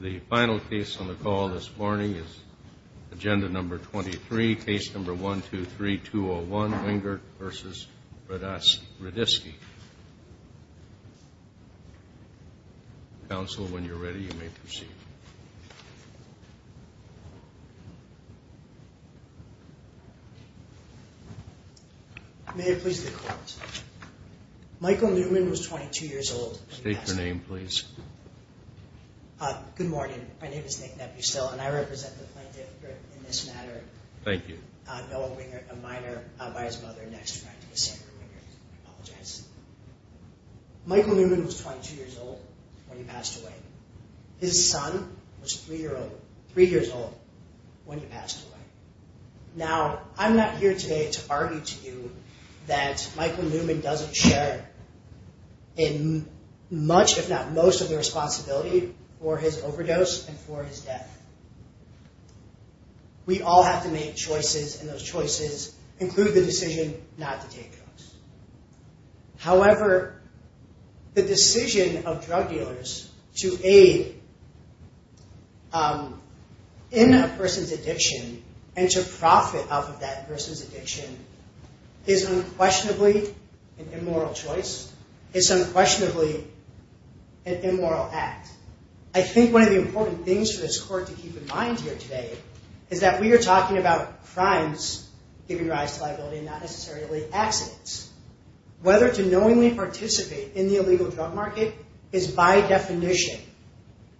The final case on the call this morning is Agenda No. 23, Case No. 123-201, Wengert v. Hradisky. Counsel, when you're ready, you may proceed. May it please the Court. Michael Newman was 22 years old. State your name, please. Good morning. My name is Nick Nepustil, and I represent the plaintiff in this matter. Thank you. Noah Wengert, a minor, by his mother and next friend, Cassandra Wengert. I apologize. Michael Newman was 22 years old when he passed away. His son was three years old when he passed away. Now, I'm not here today to argue to you that Michael Newman doesn't share in much, if not most, of the responsibility for his overdose and for his death. We all have to make choices, and those choices include the decision not to take drugs. However, the decision of drug dealers to aid in a person's addiction and to profit off of that person's addiction is unquestionably an immoral choice. It's unquestionably an immoral act. I think one of the important things for this Court to keep in mind here today is that we are talking about crimes giving rise to liability and not necessarily accidents. Whether to knowingly participate in the illegal drug market is, by definition,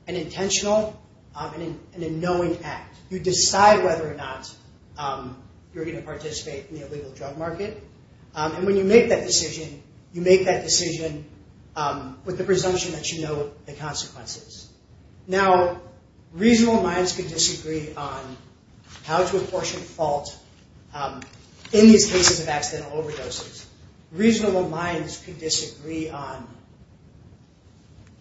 an intentional and a knowing act. You decide whether or not you're going to participate in the illegal drug market. And when you make that decision, you make that decision with the presumption that you know the consequences. Now, reasonable minds can disagree on how to apportion fault in these cases of accidental overdoses. Reasonable minds can disagree on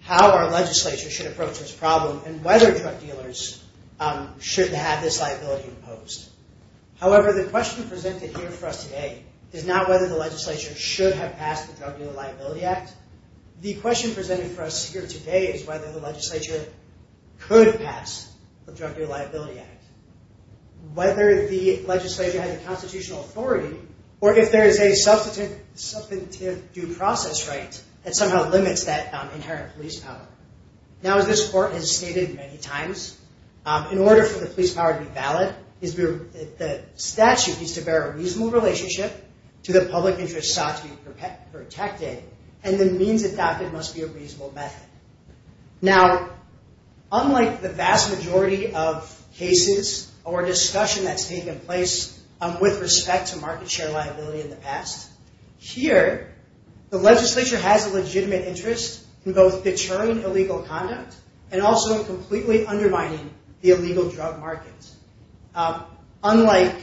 how our legislature should approach this problem and whether drug dealers should have this liability imposed. However, the question presented here for us today is not whether the legislature should have passed the Drug Dealer Liability Act. The question presented for us here today is whether the legislature could pass the Drug Dealer Liability Act. Whether the legislature has a constitutional authority or if there is a substantive due process right that somehow limits that inherent police power. Now, as this Court has stated many times, in order for the police power to be valid, the statute needs to bear a reasonable relationship to the public interest sought to be protected. And the means adopted must be a reasonable method. Now, unlike the vast majority of cases or discussion that's taken place with respect to market share liability in the past, here, the legislature has a legitimate interest in both deterring illegal conduct and also completely undermining the illegal drug market. Unlike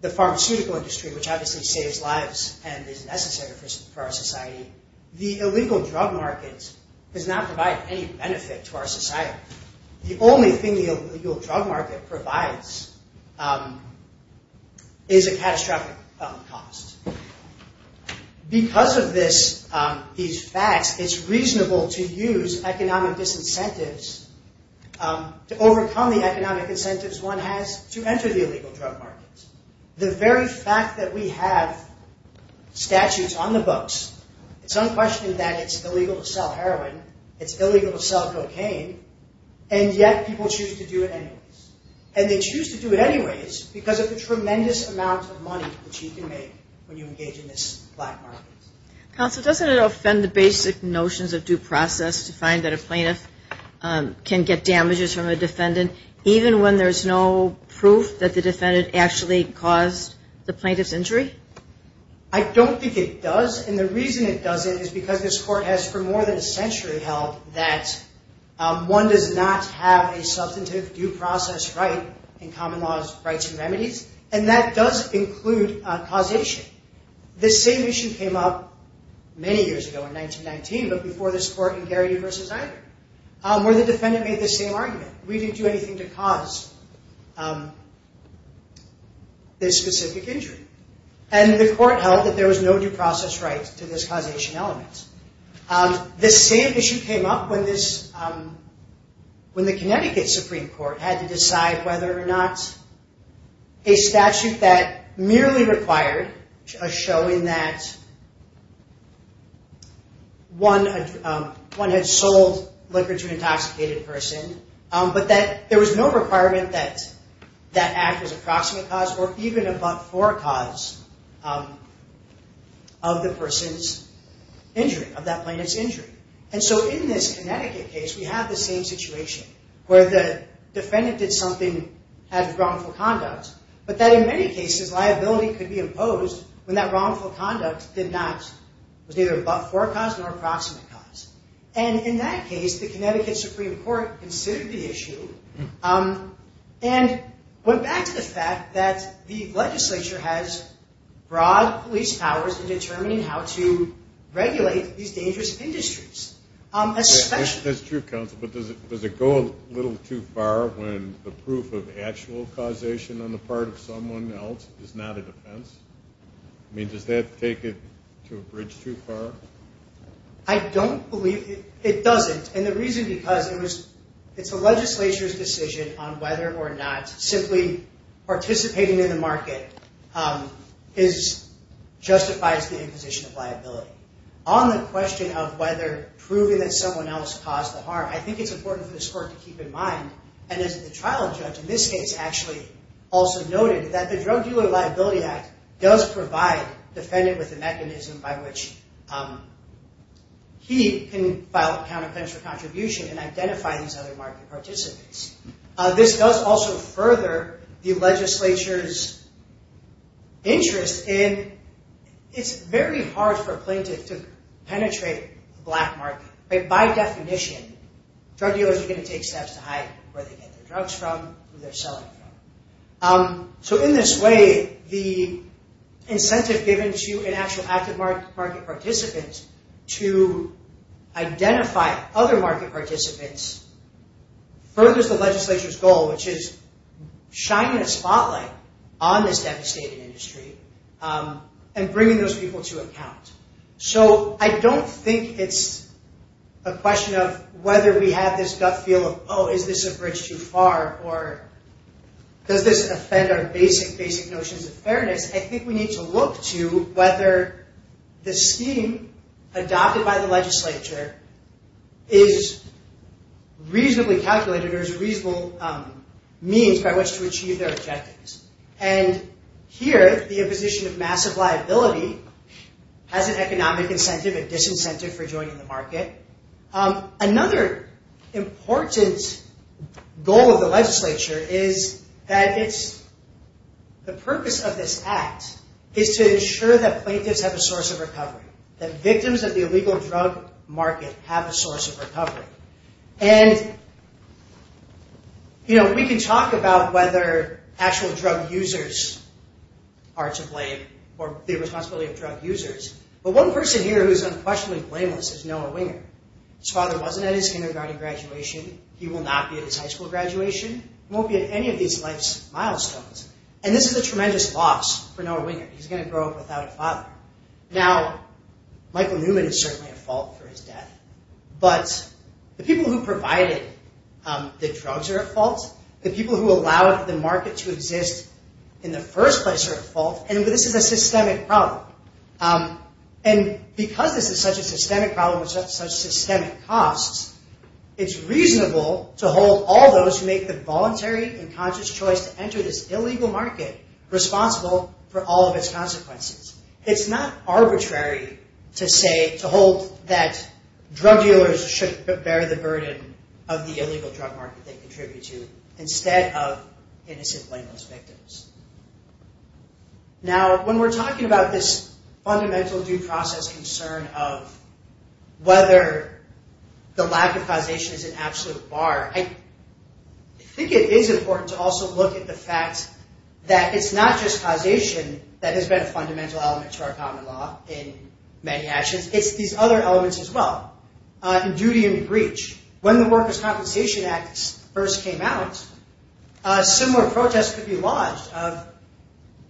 the pharmaceutical industry, which obviously saves lives and is necessary for our society, the illegal drug market does not provide any benefit to our society. The only thing the illegal drug market provides is a catastrophic cost. Because of these facts, it's reasonable to use economic disincentives to overcome the economic incentives one has to enter the illegal drug market. The very fact that we have statutes on the books, it's unquestioned that it's illegal to sell heroin, it's illegal to sell cocaine, and yet people choose to do it anyways. And they choose to do it anyways because of the tremendous amount of money that you can make when you engage in this black market. Counsel, doesn't it offend the basic notions of due process to find that a plaintiff can get damages from a defendant even when there's no proof that the defendant actually caused the plaintiff's injury? I don't think it does. And the reason it doesn't is because this Court has for more than a century held that one does not have a substantive due process right in common laws, rights, and remedies. And that does include causation. The same issue came up many years ago in 1919, but before this Court in Gary v. Iger, where the defendant made the same argument. We didn't do anything to cause this specific injury. And the Court held that there was no due process right to this causation element. This same issue came up when the Connecticut Supreme Court had to decide whether or not a statute that merely required a showing that one had sold liquor to an intoxicated person, but that there was no requirement that that act was a proximate cause or even a but-for cause of the person's injury, of that plaintiff's injury. And so in this Connecticut case, we have the same situation where the defendant did something, had wrongful conduct, but that in many cases liability could be imposed when that wrongful conduct was neither a but-for cause nor a proximate cause. And in that case, the Connecticut Supreme Court considered the issue and went back to the fact that the legislature has broad police powers in determining how to regulate these dangerous industries. That's true, counsel, but does it go a little too far when the proof of actual causation on the part of someone else is not a defense? I mean, does that take it to a bridge too far? I don't believe it doesn't, and the reason because it's the legislature's decision on whether or not simply participating in the market justifies the imposition of liability. On the question of whether proving that someone else caused the harm, I think it's important for this court to keep in mind, and as the trial judge in this case actually also noted, that the Drug Dealer Liability Act does provide the defendant with a mechanism by which he can file a counterclaims for contribution and identify these other market participants. This does also further the legislature's interest in, it's very hard for a plaintiff to penetrate the black market. By definition, drug dealers are going to take steps to hide where they get their drugs from, who they're selling them from. In this way, the incentive given to an actual active market participant to identify other market participants furthers the legislature's goal, which is shining a spotlight on this devastating industry and bringing those people to account. I don't think it's a question of whether we have this gut feel of, oh, is this a bridge too far, or does this offend our basic, basic notions of fairness? I think we need to look to whether the scheme adopted by the legislature is reasonably calculated or is a reasonable means by which to achieve their objectives. Here, the imposition of massive liability has an economic incentive, a disincentive for joining the market. Another important goal of the legislature is that the purpose of this act is to ensure that plaintiffs have a source of recovery, that victims of the illegal drug market have a source of recovery. We can talk about whether actual drug users are to blame or the responsibility of drug users, but one person here who is unquestionably blameless is Noah Winger. His father wasn't at his kindergarten graduation. He will not be at his high school graduation. He won't be at any of these life's milestones. This is a tremendous loss for Noah Winger. He's going to grow up without a father. Now, Michael Newman is certainly at fault for his death, but the people who provided the drugs are at fault. The people who allowed the market to exist in the first place are at fault, and this is a systemic problem. Because this is such a systemic problem with such systemic costs, it's reasonable to hold all those who make the voluntary and conscious choice to enter this illegal market responsible for all of its consequences. It's not arbitrary to hold that drug dealers should bear the burden of the illegal drug market they contribute to instead of innocent blameless victims. Now, when we're talking about this fundamental due process concern of whether the lack of causation is an absolute bar, I think it is important to also look at the fact that it's not just causation that has been a fundamental element to our common law in many actions. It's these other elements as well, duty and breach. When the Workers' Compensation Act first came out, similar protests could be lodged of,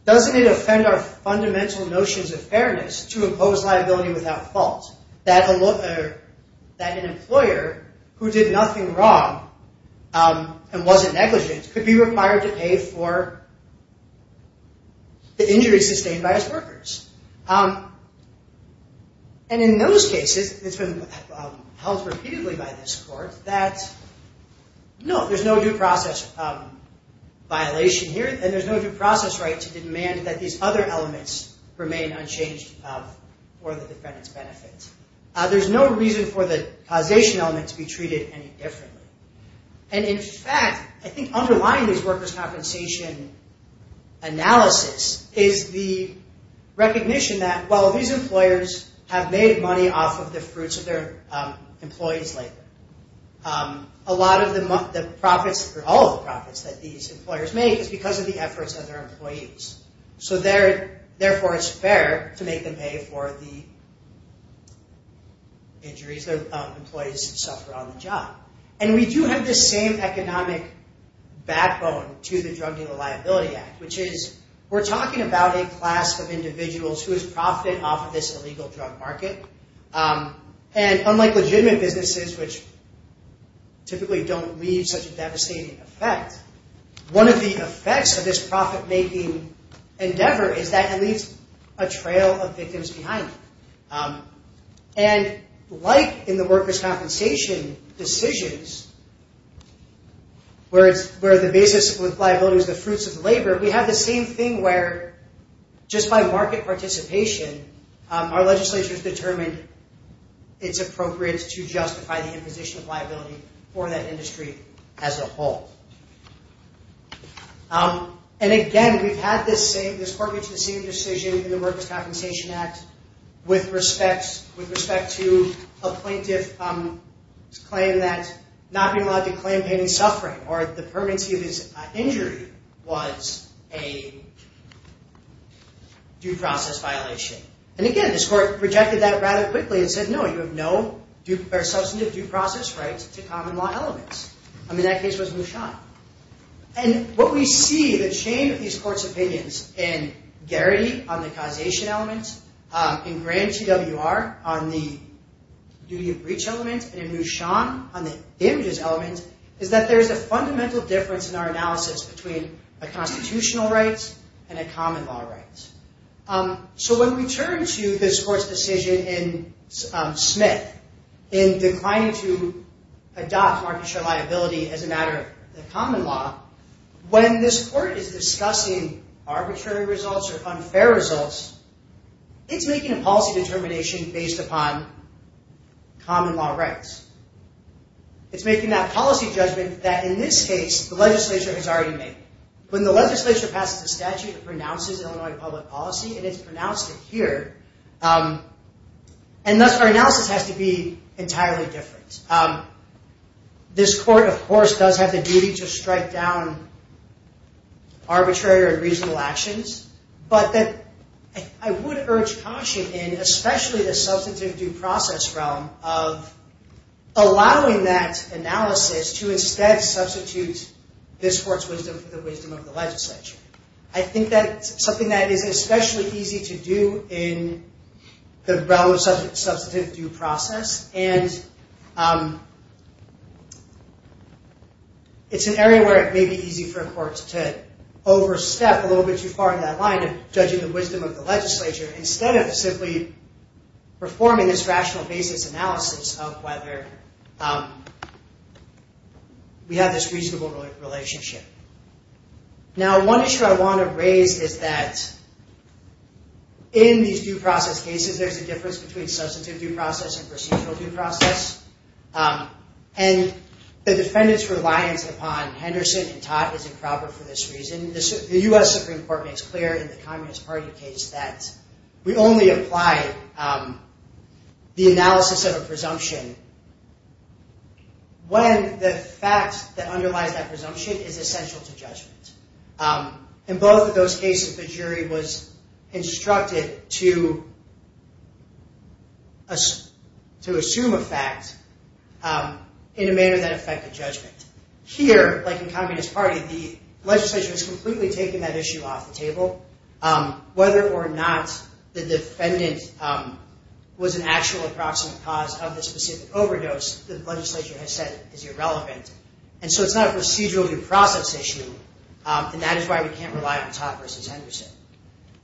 doesn't it offend our fundamental notions of fairness to impose liability without fault? That an employer who did nothing wrong and wasn't negligent could be required to pay for the injuries sustained by his workers. And in those cases, it's been held repeatedly by this Court that no, there's no due process violation here, and there's no due process right to demand that these other elements remain unchanged for the defendant's benefit. There's no reason for the causation element to be treated any differently. And in fact, I think underlying this workers' compensation analysis is the recognition that, well, these employers have made money off of the fruits of their employees' labor. A lot of the profits, or all of the profits that these employers make is because of the efforts of their employees. So therefore it's fair to make them pay for the injuries their employees suffered on the job. And we do have this same economic backbone to the Drug Dealing Liability Act, which is we're talking about a class of individuals who has profited off of this illegal drug market. And unlike legitimate businesses, which typically don't leave such a devastating effect, one of the effects of this profit-making endeavor is that it leaves a trail of victims behind. And like in the workers' compensation decisions, where the basis of liability is the fruits of labor, we have the same thing where, just by market participation, our legislature has determined it's appropriate to justify the imposition of liability for that industry as a whole. And again, we've had this same, this court reached the same decision in the Workers' Compensation Act with respect to a plaintiff's claim that not being allowed to claim pain and suffering or the permanency of his injury was a due process violation. And again, this court rejected that rather quickly and said, no, you have no substantive due process rights to common law elements. I mean, that case was Mushan. And what we see, the chain of these courts' opinions in Garrity on the causation elements, in Grand T.W.R. on the duty of breach elements, and in Mushan on the damages elements, is that there is a fundamental difference in our analysis between a constitutional right and a common law right. So when we turn to this court's decision in Smith in declining to adopt market share liability as a matter of the common law, when this court is discussing arbitrary results or unfair results, it's making a policy determination based upon common law rights. It's making that policy judgment that, in this case, the legislature has already made. When the legislature passes a statute, it pronounces Illinois public policy, and it's pronounced it here. And thus, our analysis has to be entirely different. This court, of course, does have the duty to strike down arbitrary or unreasonable actions. But I would urge caution in especially the substantive due process realm of allowing that analysis to instead substitute this court's wisdom for the wisdom of the legislature. I think that's something that is especially easy to do in the realm of substantive due process, and it's an area where it may be easy for courts to overstep a little bit too far in that line of judging the wisdom of the legislature instead of simply performing this rational basis analysis of whether we have this reasonable relationship. Now, one issue I want to raise is that in these due process cases, there's a difference between substantive due process and procedural due process. And the defendant's reliance upon Henderson and Todd is improper for this reason. The U.S. Supreme Court makes clear in the Communist Party case that we only apply the analysis of a presumption when the fact that underlies that presumption is essential to judgment. In both of those cases, the jury was instructed to assume a fact in a manner that affected judgment. Here, like in Communist Party, the legislature has completely taken that issue off the table. Whether or not the defendant was an actual approximate cause of the specific overdose, the legislature has said is irrelevant. And so it's not a procedural due process issue, and that is why we can't rely on Todd v. Henderson.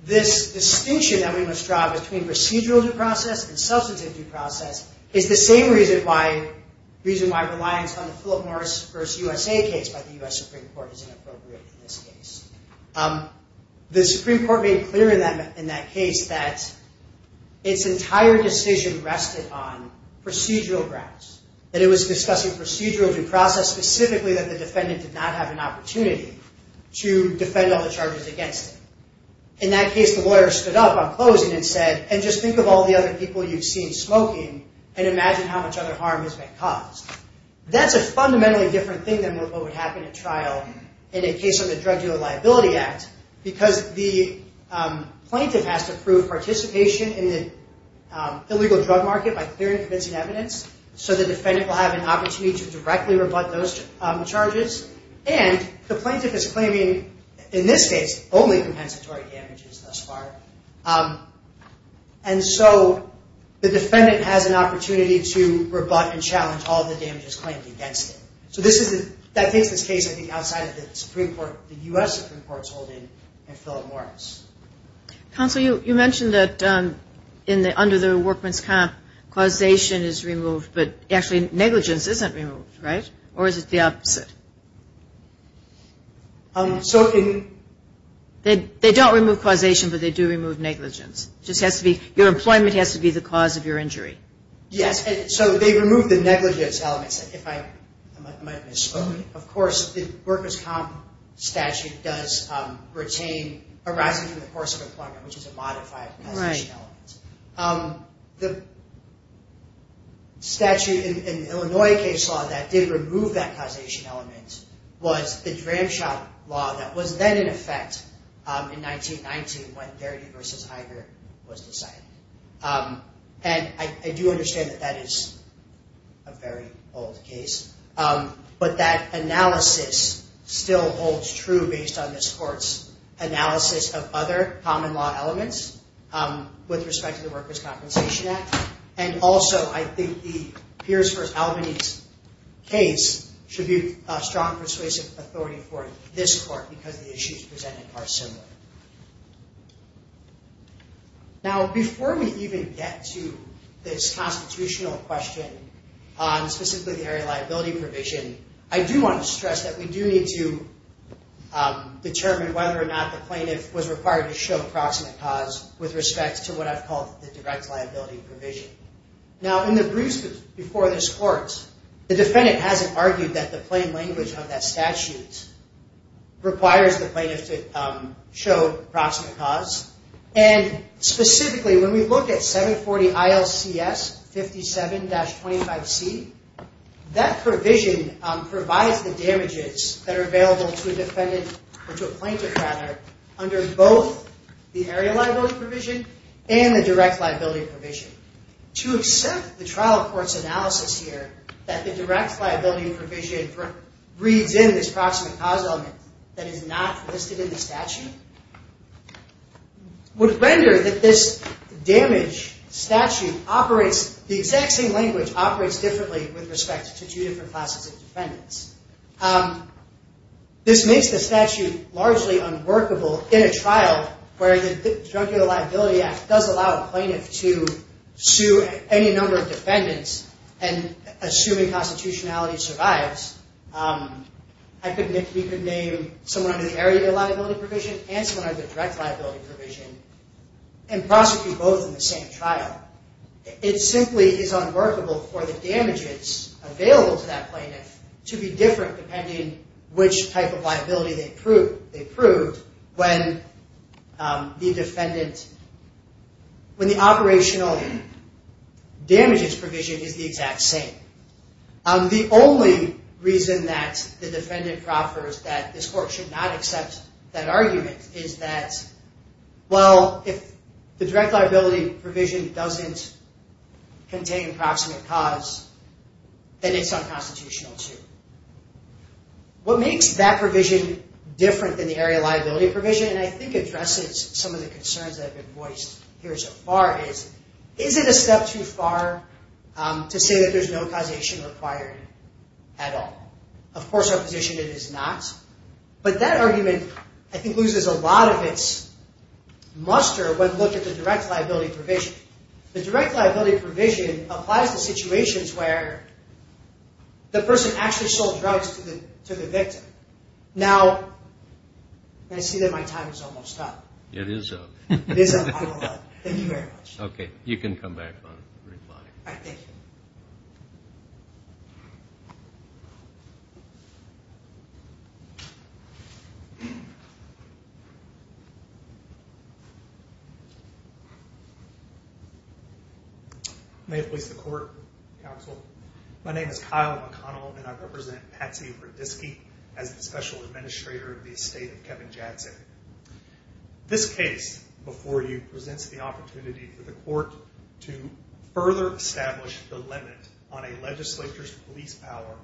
This distinction that we must draw between procedural due process and substantive due process is the same reason why reliance on the Philip Morris v. USA case by the U.S. Supreme Court is inappropriate in this case. The Supreme Court made clear in that case that its entire decision rested on procedural grounds. That it was discussing procedural due process, specifically that the defendant did not have an opportunity to defend all the charges against him. In that case, the lawyer stood up on closing and said, and just think of all the other people you've seen smoking and imagine how much other harm has been caused. That's a fundamentally different thing than what would happen at trial in a case of the Drug Dealer Liability Act, because the plaintiff has to prove participation in the illegal drug market by clearing and convincing evidence, so the defendant will have an opportunity to directly rebut those charges. And the plaintiff is claiming, in this case, only compensatory damages thus far. And so the defendant has an opportunity to rebut and challenge all the damages claimed against him. So that takes this case, I think, outside of the U.S. Supreme Court's holding in Philip Morris. Counsel, you mentioned that under the workman's comp, causation is removed, but actually negligence isn't removed, right? Or is it the opposite? They don't remove causation, but they do remove negligence. Your employment has to be the cause of your injury. Yes, so they remove the negligence elements. Of course, the workman's comp statute does retain arising from the course of employment, which is a modified causation element. The statute in the Illinois case law that did remove that causation element was the Dramshaw Law that was then in effect in 1919, when Darity v. Iger was decided. And I do understand that that is a very old case. But that analysis still holds true based on this court's analysis of other common law elements with respect to the Worker's Compensation Act. And also, I think the Pierce v. Albany case should be a strong persuasive authority for this court because the issues presented are similar. Now, before we even get to this constitutional question on specifically the area of liability provision, I do want to stress that we do need to determine whether or not the plaintiff was required to show proximate cause with respect to what I've called the direct liability provision. Now, in the briefs before this court, the defendant hasn't argued that the plain language of that statute requires the plaintiff to show proximate cause. And specifically, when we look at 740 ILCS 57-25C, that provision provides the damages that are available to a plaintiff under both the area liability provision and the direct liability provision. To accept the trial court's analysis here that the direct liability provision reads in this proximate cause element that is not listed in the statute would render that this damage statute operates, the exact same language operates differently with respect to two different classes of defendants. This makes the statute largely unworkable in a trial where the Junkier Liability Act does allow a plaintiff to sue any number of defendants, and assuming constitutionality survives, we could name someone under the area liability provision and someone under the direct liability provision and prosecute both in the same trial. It simply is unworkable for the damages available to that plaintiff to be different depending on which type of liability they proved when the operational damages provision is the exact same. The only reason that the defendant proffers that this court should not accept that argument is that, well, if the direct liability provision doesn't contain proximate cause, then it's unconstitutional too. What makes that provision different than the area liability provision and I think addresses some of the concerns that have been voiced here so far is, is it a step too far to say that there's no causation required at all? Of course, our position is it is not. But that argument, I think, loses a lot of its muster when looked at the direct liability provision. The direct liability provision applies to situations where the person actually sold drugs to the victim. Now, I see that my time is almost up. It is up. It is up. Thank you very much. Okay. You can come back and reply. All right. Thank you. May it please the court, counsel. My name is Kyle McConnell and I represent Patsy Rudisky as the special administrator of the estate of Kevin Jadczyk. This case before you presents the opportunity for the court to further establish the limit on a legislature's police power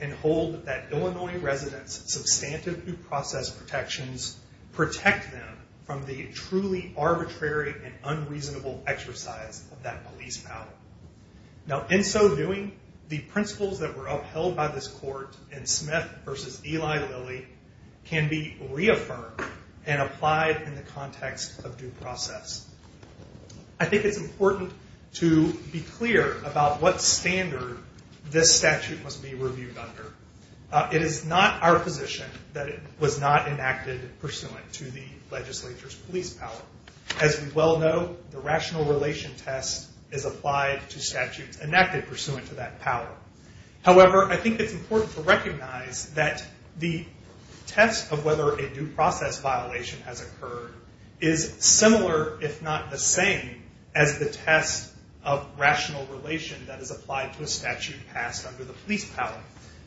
and hold that Illinois residents' substantive due process protections protect them from the truly arbitrary and unreasonable exercise of that police power. Now, in so doing, the principles that were upheld by this court in Smith v. Eli Lilly can be reaffirmed and applied in the context of due process. I think it's important to be clear about what standard this statute must be reviewed under. It is not our position that it was not enacted pursuant to the legislature's police power. As we well know, the rational relation test is applied to statutes enacted pursuant to that power. However, I think it's important to recognize that the test of whether a due process violation has occurred is similar, if not the same, as the test of rational relation that is applied to a statute passed under the police power.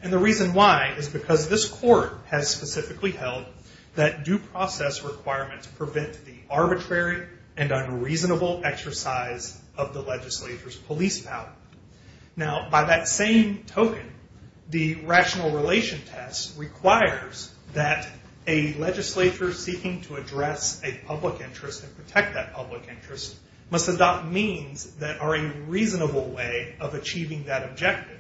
The reason why is because this court has specifically held that due process requirements prevent the arbitrary and unreasonable exercise of the legislature's police power. Now, by that same token, the rational relation test requires that a legislature seeking to address a public interest and protect that public interest must adopt means that are a reasonable way of achieving that objective.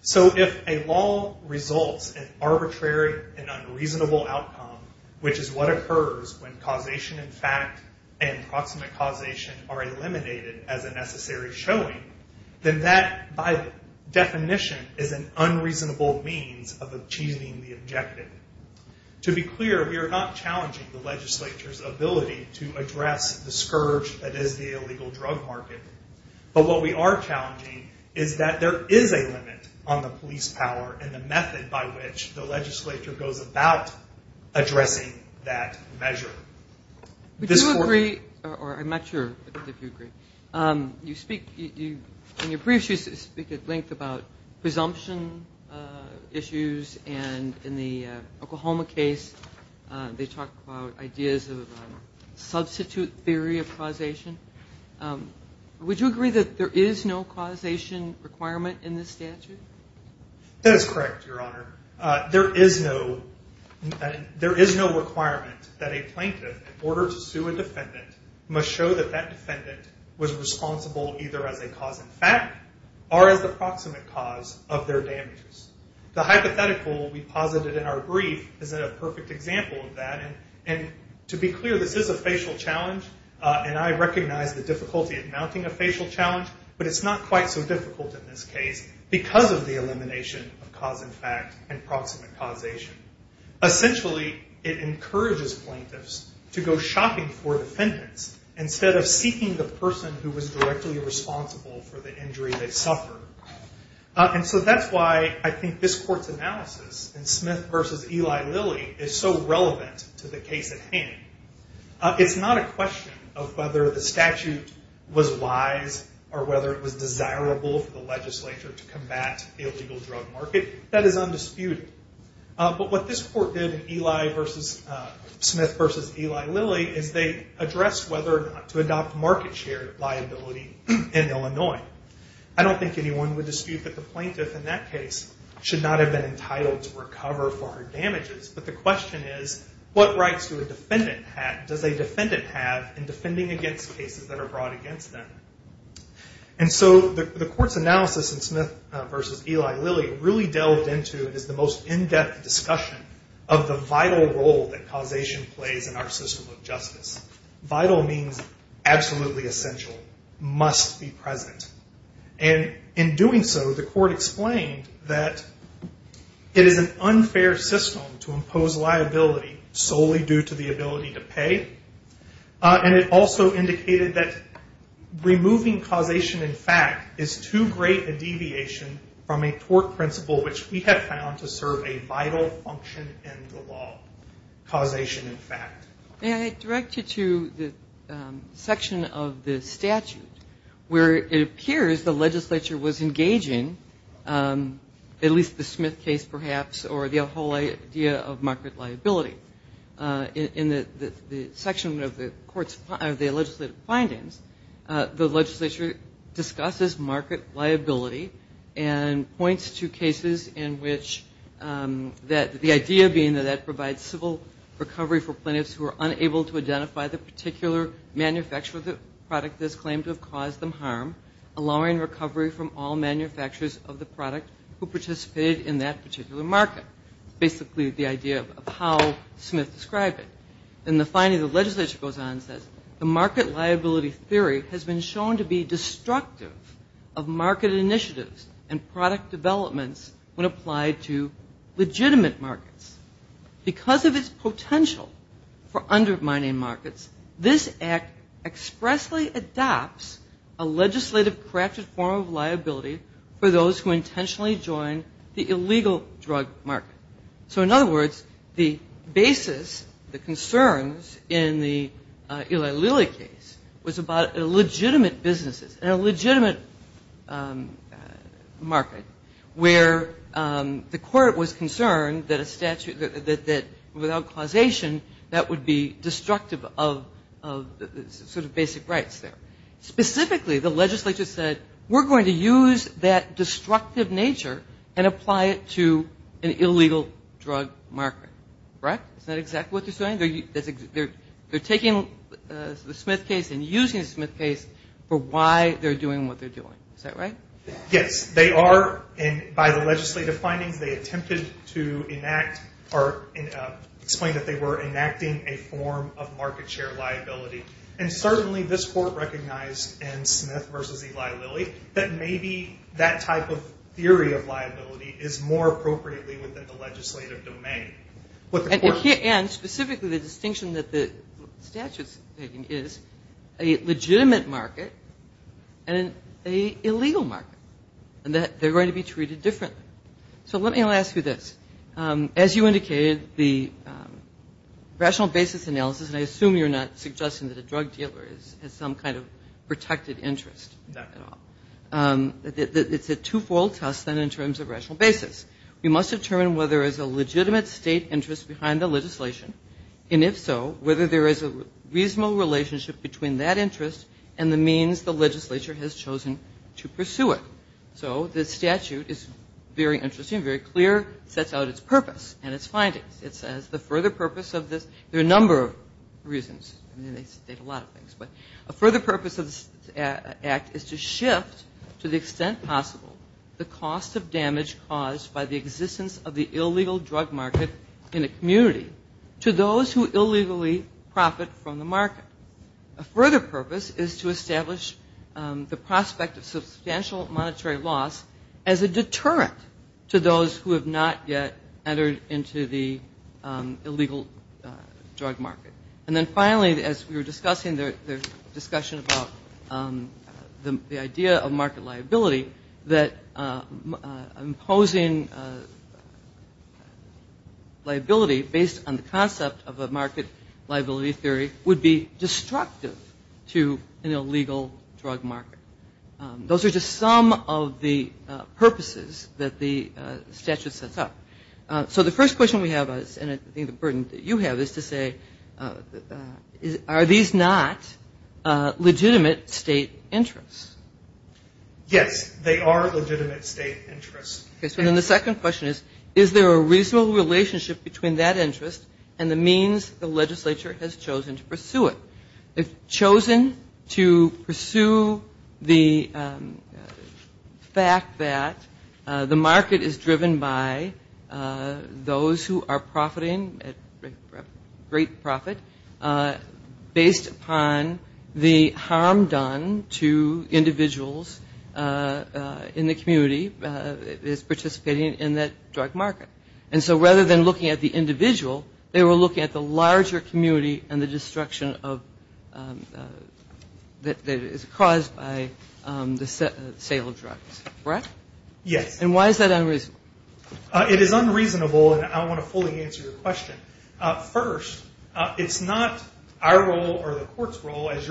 So if a law results in arbitrary and unreasonable outcome, which is what occurs when causation in fact and proximate causation are eliminated as a necessary showing, then that, by definition, is an unreasonable means of achieving the objective. To be clear, we are not challenging the legislature's ability to address the scourge that is the illegal drug market. But what we are challenging is that there is a limit on the police power and the method by which the legislature goes about addressing that measure. I'm not sure if you agree. In your briefs, you speak at length about presumption issues. And in the Oklahoma case, they talk about ideas of substitute theory of causation. Would you agree that there is no causation requirement in this statute? That is correct, Your Honor. There is no requirement that a plaintiff, in order to sue a defendant, must show that that defendant was responsible either as a cause in fact or as the proximate cause of their damages. The hypothetical we posited in our brief is a perfect example of that. And to be clear, this is a facial challenge. And I recognize the difficulty of mounting a facial challenge. But it's not quite so difficult in this case because of the elimination of cause in fact and proximate causation. Essentially, it encourages plaintiffs to go shopping for defendants instead of seeking the person who was directly responsible for the injury they suffered. And so that's why I think this court's analysis in Smith v. Eli Lilly is so relevant to the case at hand. It's not a question of whether the statute was wise or whether it was desirable for the legislature to combat the illegal drug market. That is undisputed. But what this court did in Smith v. Eli Lilly is they addressed whether or not to adopt market share liability in Illinois. I don't think anyone would dispute that the plaintiff in that case should not have been entitled to recover for her damages. But the question is, what rights does a defendant have in defending against cases that are brought against them? And so the court's analysis in Smith v. Eli Lilly really delved into and is the most in-depth discussion of the vital role that causation plays in our system of justice. Vital means absolutely essential, must be present. And in doing so, the court explained that it is an unfair system to impose liability solely due to the ability to pay. And it also indicated that removing causation in fact is too great a deviation from a tort principle, which we have found to serve a vital function in the law, causation in fact. May I direct you to the section of the statute where it appears the legislature was engaging, at least the Smith case perhaps, or the whole idea of market liability. In the section of the legislative findings, the legislature discusses market liability and points to cases in which the idea being that that provides civil recovery for plaintiffs who are unable to identify the particular manufacturer of the product that is claimed to have caused them harm, allowing recovery from all manufacturers of the product who participated in that particular market. Basically the idea of how Smith described it. In the finding, the legislature goes on and says, the market liability theory has been shown to be destructive of market initiatives and product developments when applied to legitimate markets. Because of its potential for undermining markets, this act expressly adopts a legislative crafted form of liability for those who intentionally join the illegal drug market. So in other words, the basis, the concerns in the Eli Lilly case was about legitimate businesses and a legitimate market, where the court was concerned that without causation that would be destructive of sort of basic rights there. Specifically, the legislature said, we're going to use that destructive nature and apply it to an illegal drug market. Right? Is that exactly what they're saying? They're taking the Smith case and using the Smith case for why they're doing what they're doing. Is that right? Yes. They are. And by the legislative findings, they attempted to enact or explain that they were enacting a form of market share liability. And certainly this court recognized in Smith v. Eli Lilly that maybe that type of theory of liability is more appropriately within the legislative domain. And specifically the distinction that the statute's taking is a legitimate market and an illegal market. And that they're going to be treated differently. So let me ask you this. As you indicated, the rational basis analysis, and I assume you're not suggesting that a drug dealer has some kind of protected interest at all. It's a two-fold test then in terms of rational basis. We must determine whether there is a legitimate state interest in the drug market. And if so, whether there is a reasonable relationship between that interest and the means the legislature has chosen to pursue it. So the statute is very interesting, very clear, sets out its purpose and its findings. It says the further purpose of this, there are a number of reasons. I mean, they state a lot of things. But a further purpose of this act is to shift to the extent possible the cost of damage caused by the existence of the community to those who illegally profit from the market. A further purpose is to establish the prospect of substantial monetary loss as a deterrent to those who have not yet entered into the illegal drug market. And then finally, as we were discussing, there's discussion about the idea of market liability, that imposing liability to those who have not yet entered into the market based on the concept of a market liability theory would be destructive to an illegal drug market. Those are just some of the purposes that the statute sets out. So the first question we have, and I think the burden that you have, is to say are these not legitimate state interests? Yes, they are legitimate state interests. And then the second question is, is there a reasonable relationship between that interest and the means the legislature has chosen to pursue it? They've chosen to pursue the fact that the market is driven by those who are profiting a great profit based upon the harm done to individuals in the drug market. And so rather than looking at the individual, they were looking at the larger community and the destruction that is caused by the sale of drugs. Correct? Yes. And why is that unreasonable? Well, the court has declined to do so today. However, what this court's role is,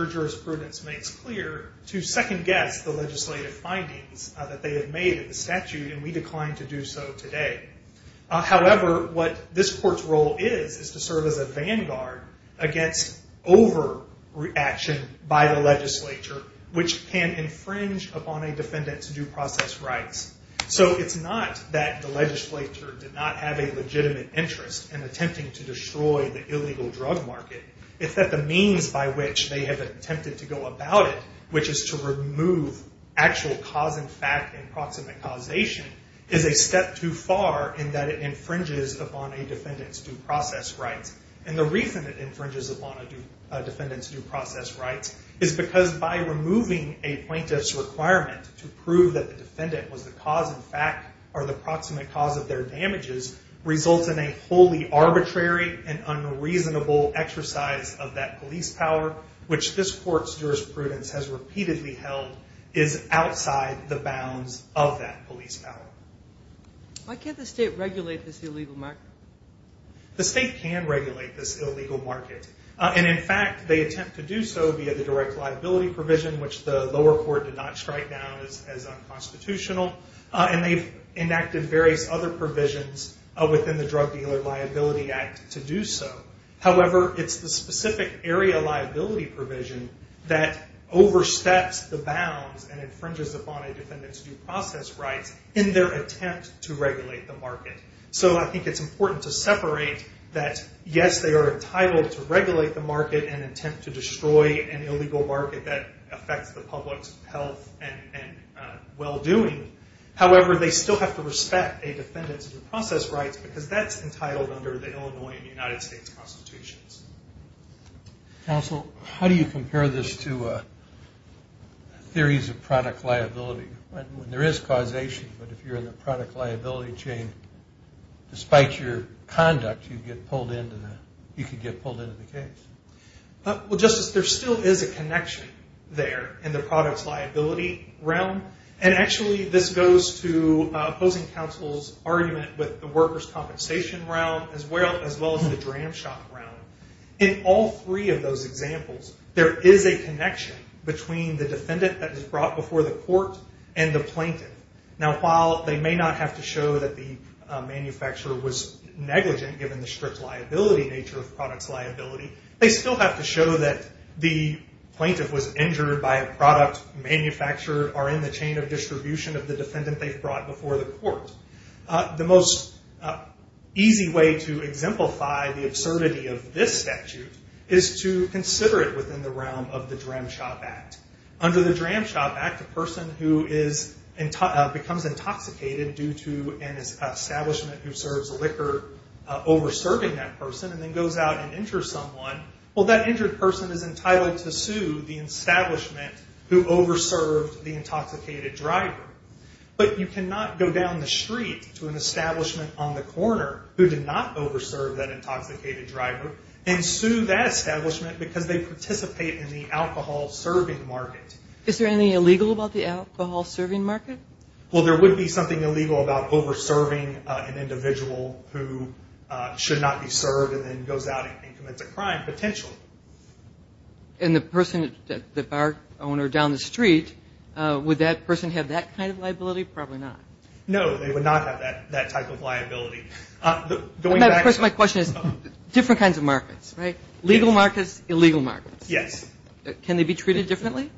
is to serve as a vanguard against overreaction by the legislature, which can infringe upon a defendant's due process rights. So it's not that the legislature did not have a legitimate interest in attempting to destroy the illegal drug market. It's that the means by which they have attempted to go about it, which is to remove actual cause and fact and proximate causation, is a step too far in that it infringes upon a defendant's due process rights. And the reason it infringes upon a defendant's due process rights is because by removing a plaintiff's requirement to prove that the defendant was the cause and fact, or the proximate cause of their damages, results in a wholly arbitrary and unreasonable exercise of that police power, which this court's jurisprudence has repeatedly held is outside the jurisdiction of the state. Why can't the state regulate this illegal market? The state can regulate this illegal market. And in fact, they attempt to do so via the direct liability provision, which the lower court did not strike down as unconstitutional. And they've enacted various other provisions within the Drug Dealer Liability Act to do so. However, it's the specific area liability provision that oversteps the bounds and infringes upon a defendant's due process rights in their attempt to regulate the market. So I think it's important to separate that, yes, they are entitled to regulate the market and attempt to destroy an illegal market that affects the public's health and well-doing. However, they still have to respect a defendant's due process rights, because that's entitled under the Drug Dealer Liability Act. How do you compare this to theories of product liability, when there is causation, but if you're in the product liability chain, despite your conduct, you could get pulled into the case? Well, Justice, there still is a connection there in the product liability realm. And actually, this goes to opposing counsel's argument with the workers' compensation realm, as well as the dram shop realm. In all three of those examples, there is a connection. There is a connection between the defendant that was brought before the court and the plaintiff. Now, while they may not have to show that the manufacturer was negligent, given the strict liability nature of product's liability, they still have to show that the plaintiff was injured by a product manufacturer or in the chain of distribution of the defendant they've brought before the court. The most easy way to exemplify the absurdity of this statute is to consider it within the context of the court. In the realm of the Dram Shop Act, under the Dram Shop Act, a person who becomes intoxicated due to an establishment who serves liquor over-serving that person, and then goes out and injures someone, well, that injured person is entitled to sue the establishment who over-served the intoxicated driver. But you cannot go down the street to an establishment on the corner who did not over-serve that intoxicated driver, and sue that establishment because they participate in the alcohol-serving market. Is there anything illegal about the alcohol-serving market? Well, there would be something illegal about over-serving an individual who should not be served and then goes out and commits a crime, potentially. And the person, the bar owner down the street, would that person have that kind of liability? Probably not. No, they would not have that type of liability. And of course my question is, different kinds of markets, right? Legal markets, illegal markets. Yes. Can they be treated differently?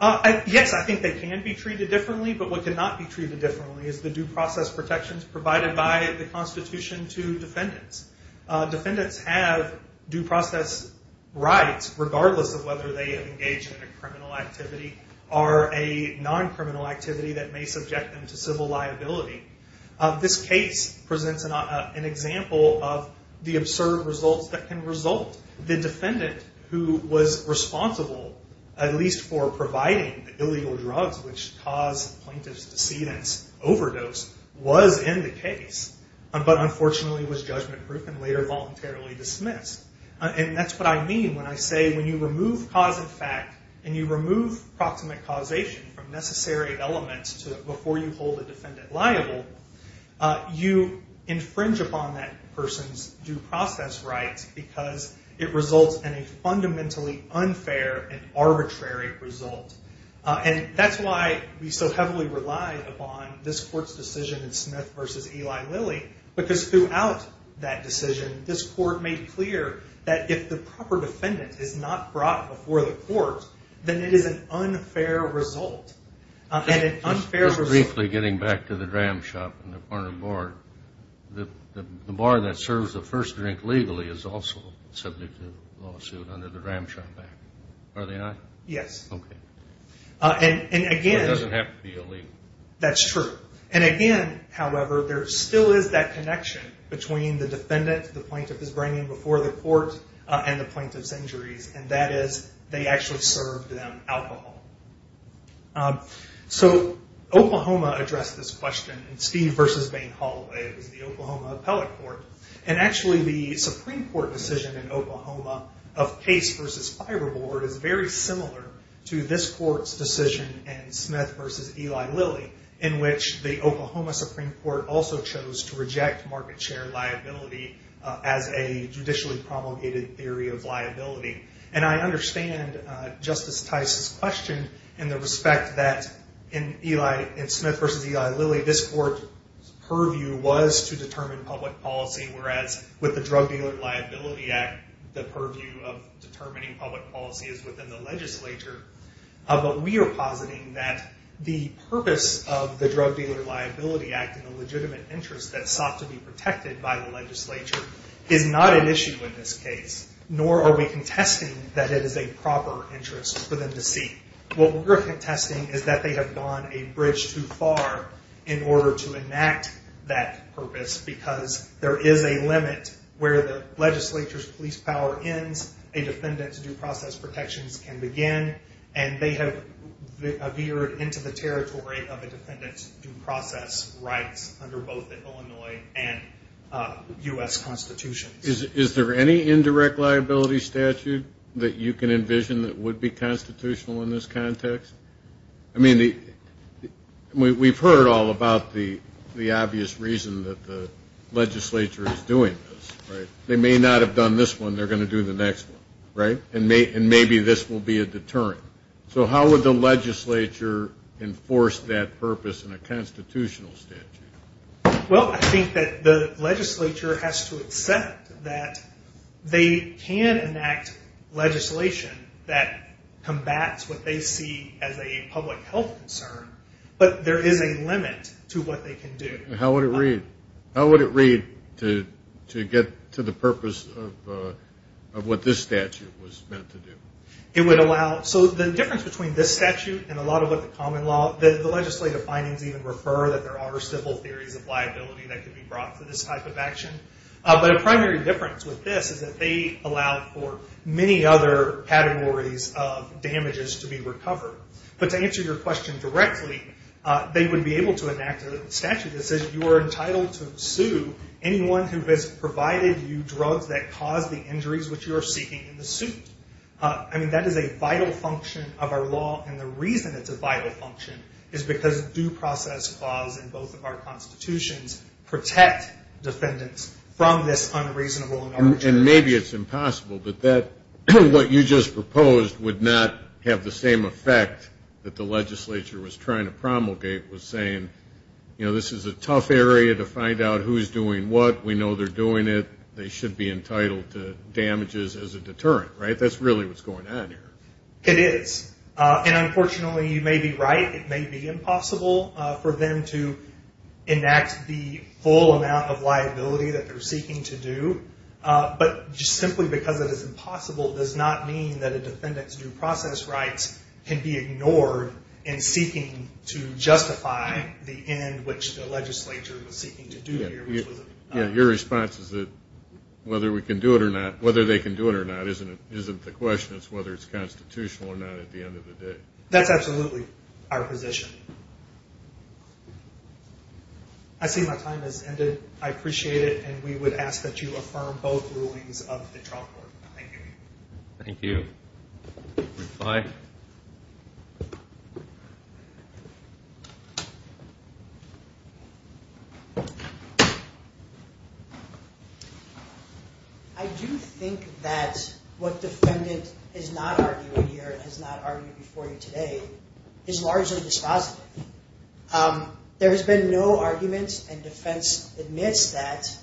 Yes, I think they can be treated differently, but what cannot be treated differently is the due process protections provided by the Constitution to defendants. Defendants have due process rights regardless of whether they have engaged in a criminal activity or a non-criminal activity that may subject them to civil liability. And that represents an example of the absurd results that can result. The defendant who was responsible, at least for providing the illegal drugs which caused the plaintiff's decedent's overdose, was in the case, but unfortunately was judgment-proof and later voluntarily dismissed. And that's what I mean when I say when you remove cause and fact, and you remove proximate causation from necessary elements before you hold a defendant liable, you infringe upon that person's due process rights because it results in a fundamentally unfair and arbitrary result. And that's why we so heavily rely upon this Court's decision in Smith v. Eli Lilly, because throughout that decision this Court made clear that if the proper defendant is not brought before the Court, then it is an unfair result. The bar that serves the first drink legally is also subject to lawsuit under the Ramshackle Act, are they not? Yes. And again, however, there still is that connection between the defendant the plaintiff is bringing before the Court and the plaintiff's injuries, and that is they actually served them alcohol. So, Oklahoma addressed this question in Steve v. Bain Hall, it was the Oklahoma Appellate Court, and actually the Supreme Court decision in Oklahoma of Case v. Fiberboard is very similar to this Court's decision in Smith v. Eli Lilly, in which the Oklahoma Supreme Court also chose to reject market share liability as a judicially promulgated theory of liability. And I understand Justice Tice's question in the respect that in Smith v. Eli Lilly this Court's purview was to determine public policy, whereas with the Drug Dealer Liability Act the purview of determining public policy is within the legislature. But we are positing that the purpose of the Drug Dealer Liability Act and the legitimate interest that sought to be protected by the legislature is not an issue in this case, nor are we contesting that it is a proper interest for them to seek. What we're contesting is that they have gone a bridge too far in order to enact that purpose, because there is a limit where the legislature's police power ends, a defendant's due process protections can begin, and they have veered into the territory of a defendant's due process rights under both the Illinois and U.S. Constitution. Is there any indirect liability statute that you can envision that would be constitutional in this context? I mean, we've heard all about the obvious reason that the legislature is doing this, right? They may not have done this one, they're going to do the next one, right, and maybe this will be a deterrent. So how would the legislature enforce that purpose in a constitutional statute? Well, I think that the legislature has to accept that they can enact legislation that combats what they see as a public health concern, but there is a limit to what they can do. How would it read to get to the purpose of what this statute was meant to do? It would allow, so the difference between this statute and a lot of what the common law, the legislative findings even refer that there are civil theories of liability that could be brought to this type of action, but a primary difference with this is that they allow for many other categories of damages to be recovered. But to answer your question directly, they would be able to enact a statute that says you are entitled to sue anyone who has provided you drugs that cause the injuries which you are seeking in the suit. I mean, that is a vital function of our law, and the reason it's a vital function is because due process laws are not just one law, they are two laws, and both of our constitutions protect defendants from this unreasonable and arbitrary action. And maybe it's impossible, but what you just proposed would not have the same effect that the legislature was trying to promulgate was saying, you know, this is a tough area to find out who's doing what, we know they're doing it, they should be entitled to damages as a deterrent, right? That's really what's going on here. It is. And unfortunately, you may be right, it may be impossible for them to enact the full amount of liability that they're seeking to do, but just simply because it is impossible does not mean that a defendant's due process rights can be ignored in seeking to justify the end which the legislature was seeking to do here, which was a denial. Your response is that whether we can do it or not, whether they can do it or not isn't the question, it's whether it's constitutional or not at the end of the day. That's absolutely our position. I see my time has ended. I appreciate it, and we would ask that you affirm both rulings of the trial court. Thank you. I do think that what defendant is not arguing here and has not argued before you today is largely dispositive. There has been no argument, and defense admits that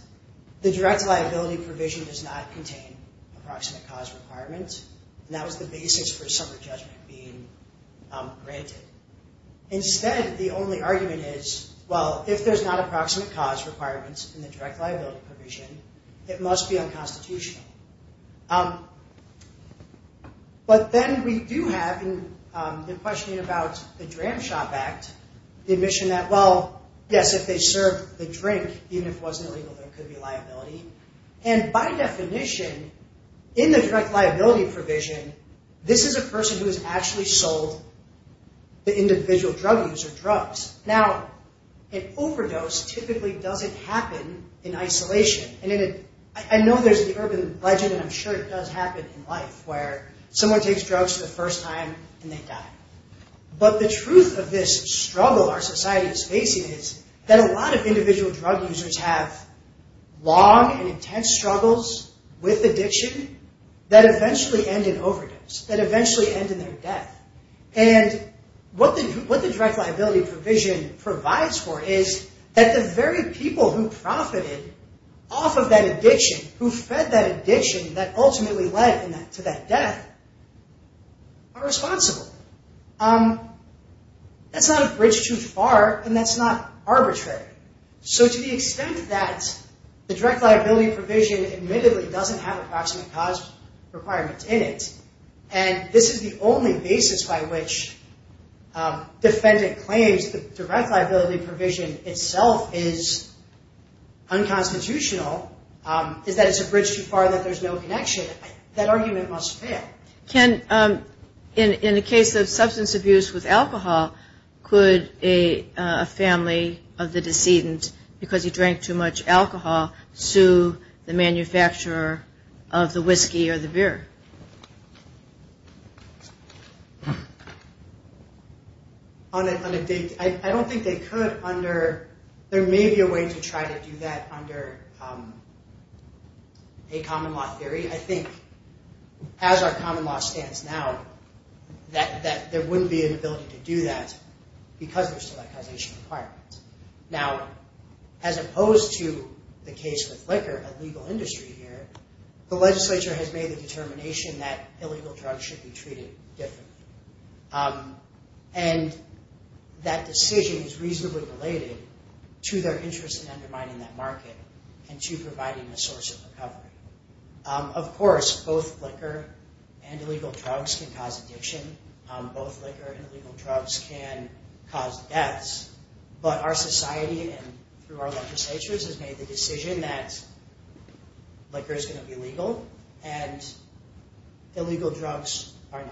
the direct liability provision does not contain approximate cause requirements, and that was the basis for some of the judgment being granted. Instead, the only argument is, well, if there's not approximate cause requirements in the direct liability provision, it must be unconstitutional. Then we do have, in questioning about the Dram Shop Act, the admission that, well, yes, if they served the drink, even if it wasn't illegal, there could be liability. By definition, in the direct liability provision, this is a person who has actually sold the individual drug user drugs. Now, an overdose typically doesn't happen in isolation. I know there's an urban legend, and I'm sure it does happen in life, where someone takes drugs for the first time, and they die. But the truth of this struggle our society is facing is that a lot of individual drug users have long and intense struggles with addiction that eventually end in overdose, that eventually end in their death. And what the direct liability provision provides for is that the very people who profited off of that addiction, who fed that addiction that ultimately led to that death, are responsible. That's not a bridge too far, and that's not arbitrary. So to the extent that the direct liability provision admittedly doesn't have approximate cause requirements in it, and this is the only basis by which defendant claims the direct liability provision itself is unconstitutional, is that it's a bridge too far that there's no connection, that argument must fail. In the case of substance abuse with alcohol, could a family of the decedent, because he drank too much alcohol, sue the manufacturer of the whiskey or the beer? On a big, I don't think they could under, there may be a way to try to do that under a common law theory. I think as our common law stands now, that there wouldn't be an ability to do that because there's still that causation requirement. Now, as opposed to the case with liquor, a legal industry here, the legislature has made the determination that illegal drugs should be treated differently. And that decision is reasonably related to their interest in undermining that market and to providing a source of recovery. Of course, both liquor and illegal drugs can cause addiction. Both liquor and illegal drugs can cause deaths. But our society and through our legislatures has made the decision that liquor is going to be legal and illegal drugs are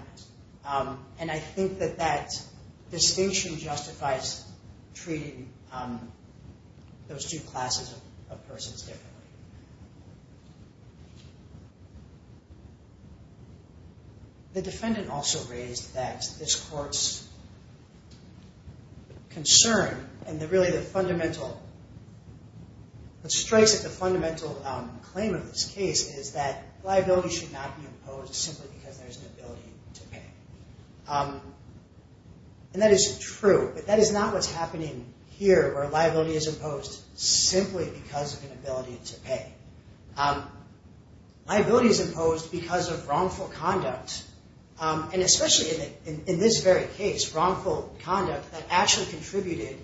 not. And I think that that distinction justifies treating those two classes of persons differently. The defendant also raised that this court's concern and really the fundamental, what strikes at the fundamental claim of this case is that liability should not be imposed simply because there's an ability to pay. And that is true, but that is not what's happening here where liability is imposed simply because of an ability to pay. Liability is imposed because of wrongful conduct. And especially in this very case, wrongful conduct that actually contributed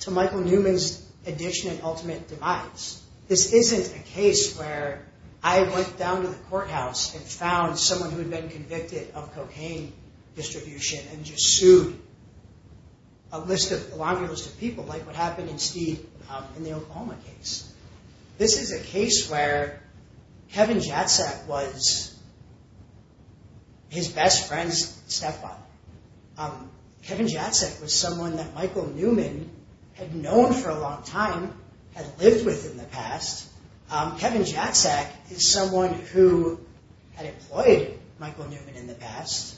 to Michael Newman's addiction and ultimate demise. This isn't a case where I went down to the courthouse and found someone who had been convicted of cocaine distribution and just sued a longer list of people like what happened in the Oklahoma case. This is a case where Kevin Jatzak was his best friend's stepfather. Kevin Jatzak was someone that Michael Newman had known for a long time, had lived with in the past. Kevin Jatzak is someone who had employed Michael Newman in the past.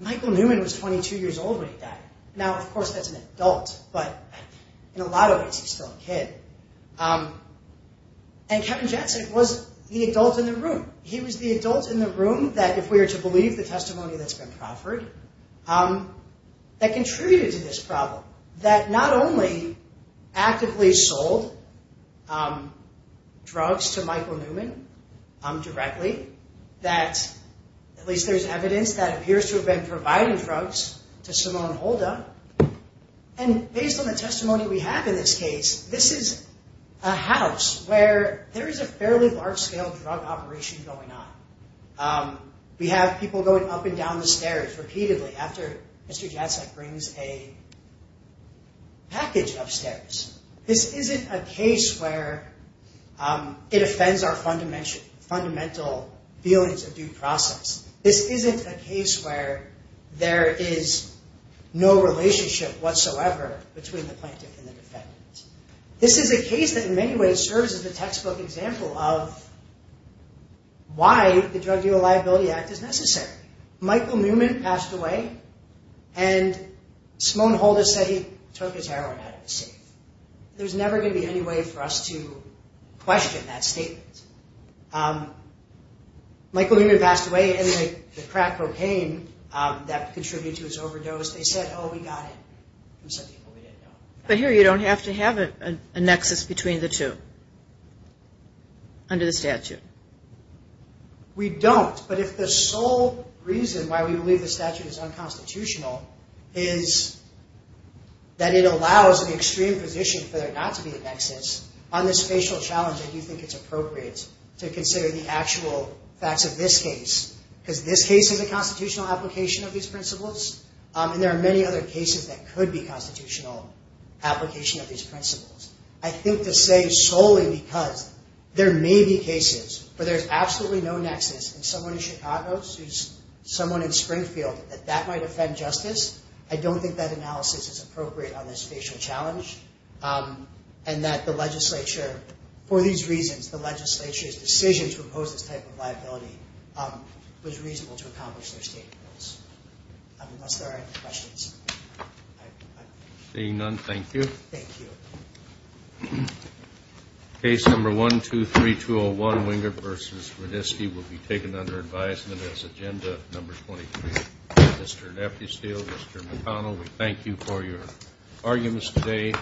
Michael Newman was 22 years old when he died. In a lot of ways, he's still a kid. And Kevin Jatzak was the adult in the room. He was the adult in the room that, if we were to believe the testimony that's been proffered, that contributed to this problem. That not only actively sold drugs to Michael Newman directly, that at least there's evidence that appears to have been providing drugs to Simone Holda. And based on the testimony we have in this case, this is a house where there is a fairly large-scale drug operation going on. We have people going up and down the stairs repeatedly after Mr. Jatzak brings a package upstairs. This isn't a case where it offends our fundamental feelings of due process. This isn't a case where there is no relationship whatsoever between the plaintiff and the defendant. This is a case that in many ways serves as a textbook example of why the Drug Deal and Liability Act is necessary. Michael Newman passed away, and Simone Holda said he took his heroin out of his safe. There's never going to be any way for us to question that statement. Michael Newman passed away, and the crack propane that contributed to his overdose, they said, oh, we got it. But here you don't have to have a nexus between the two under the statute. We don't, but if the sole reason why we believe the statute is unconstitutional is that it allows an extreme position for there not to be a nexus, on this facial challenge, I do think it's appropriate to consider the actual facts of this case. Because this case is a constitutional application of these principles, and there are many other cases that could be constitutional application of these principles. I think to say solely because there may be cases where there's absolutely no nexus, and someone in Chicago, someone in Springfield, that that might offend justice, I don't think that analysis is appropriate on this facial challenge, and that the legislature, for these reasons, the legislature's decision to impose this type of liability was reasonable to accomplish their state goals, unless there are any questions. Seeing none, thank you. Thank you. Case number 123201, Winger v. Rudisky, will be taken under advisement as agenda number 23. Mr. Nepesteel, Mr. McConnell, we thank you for your arguments today.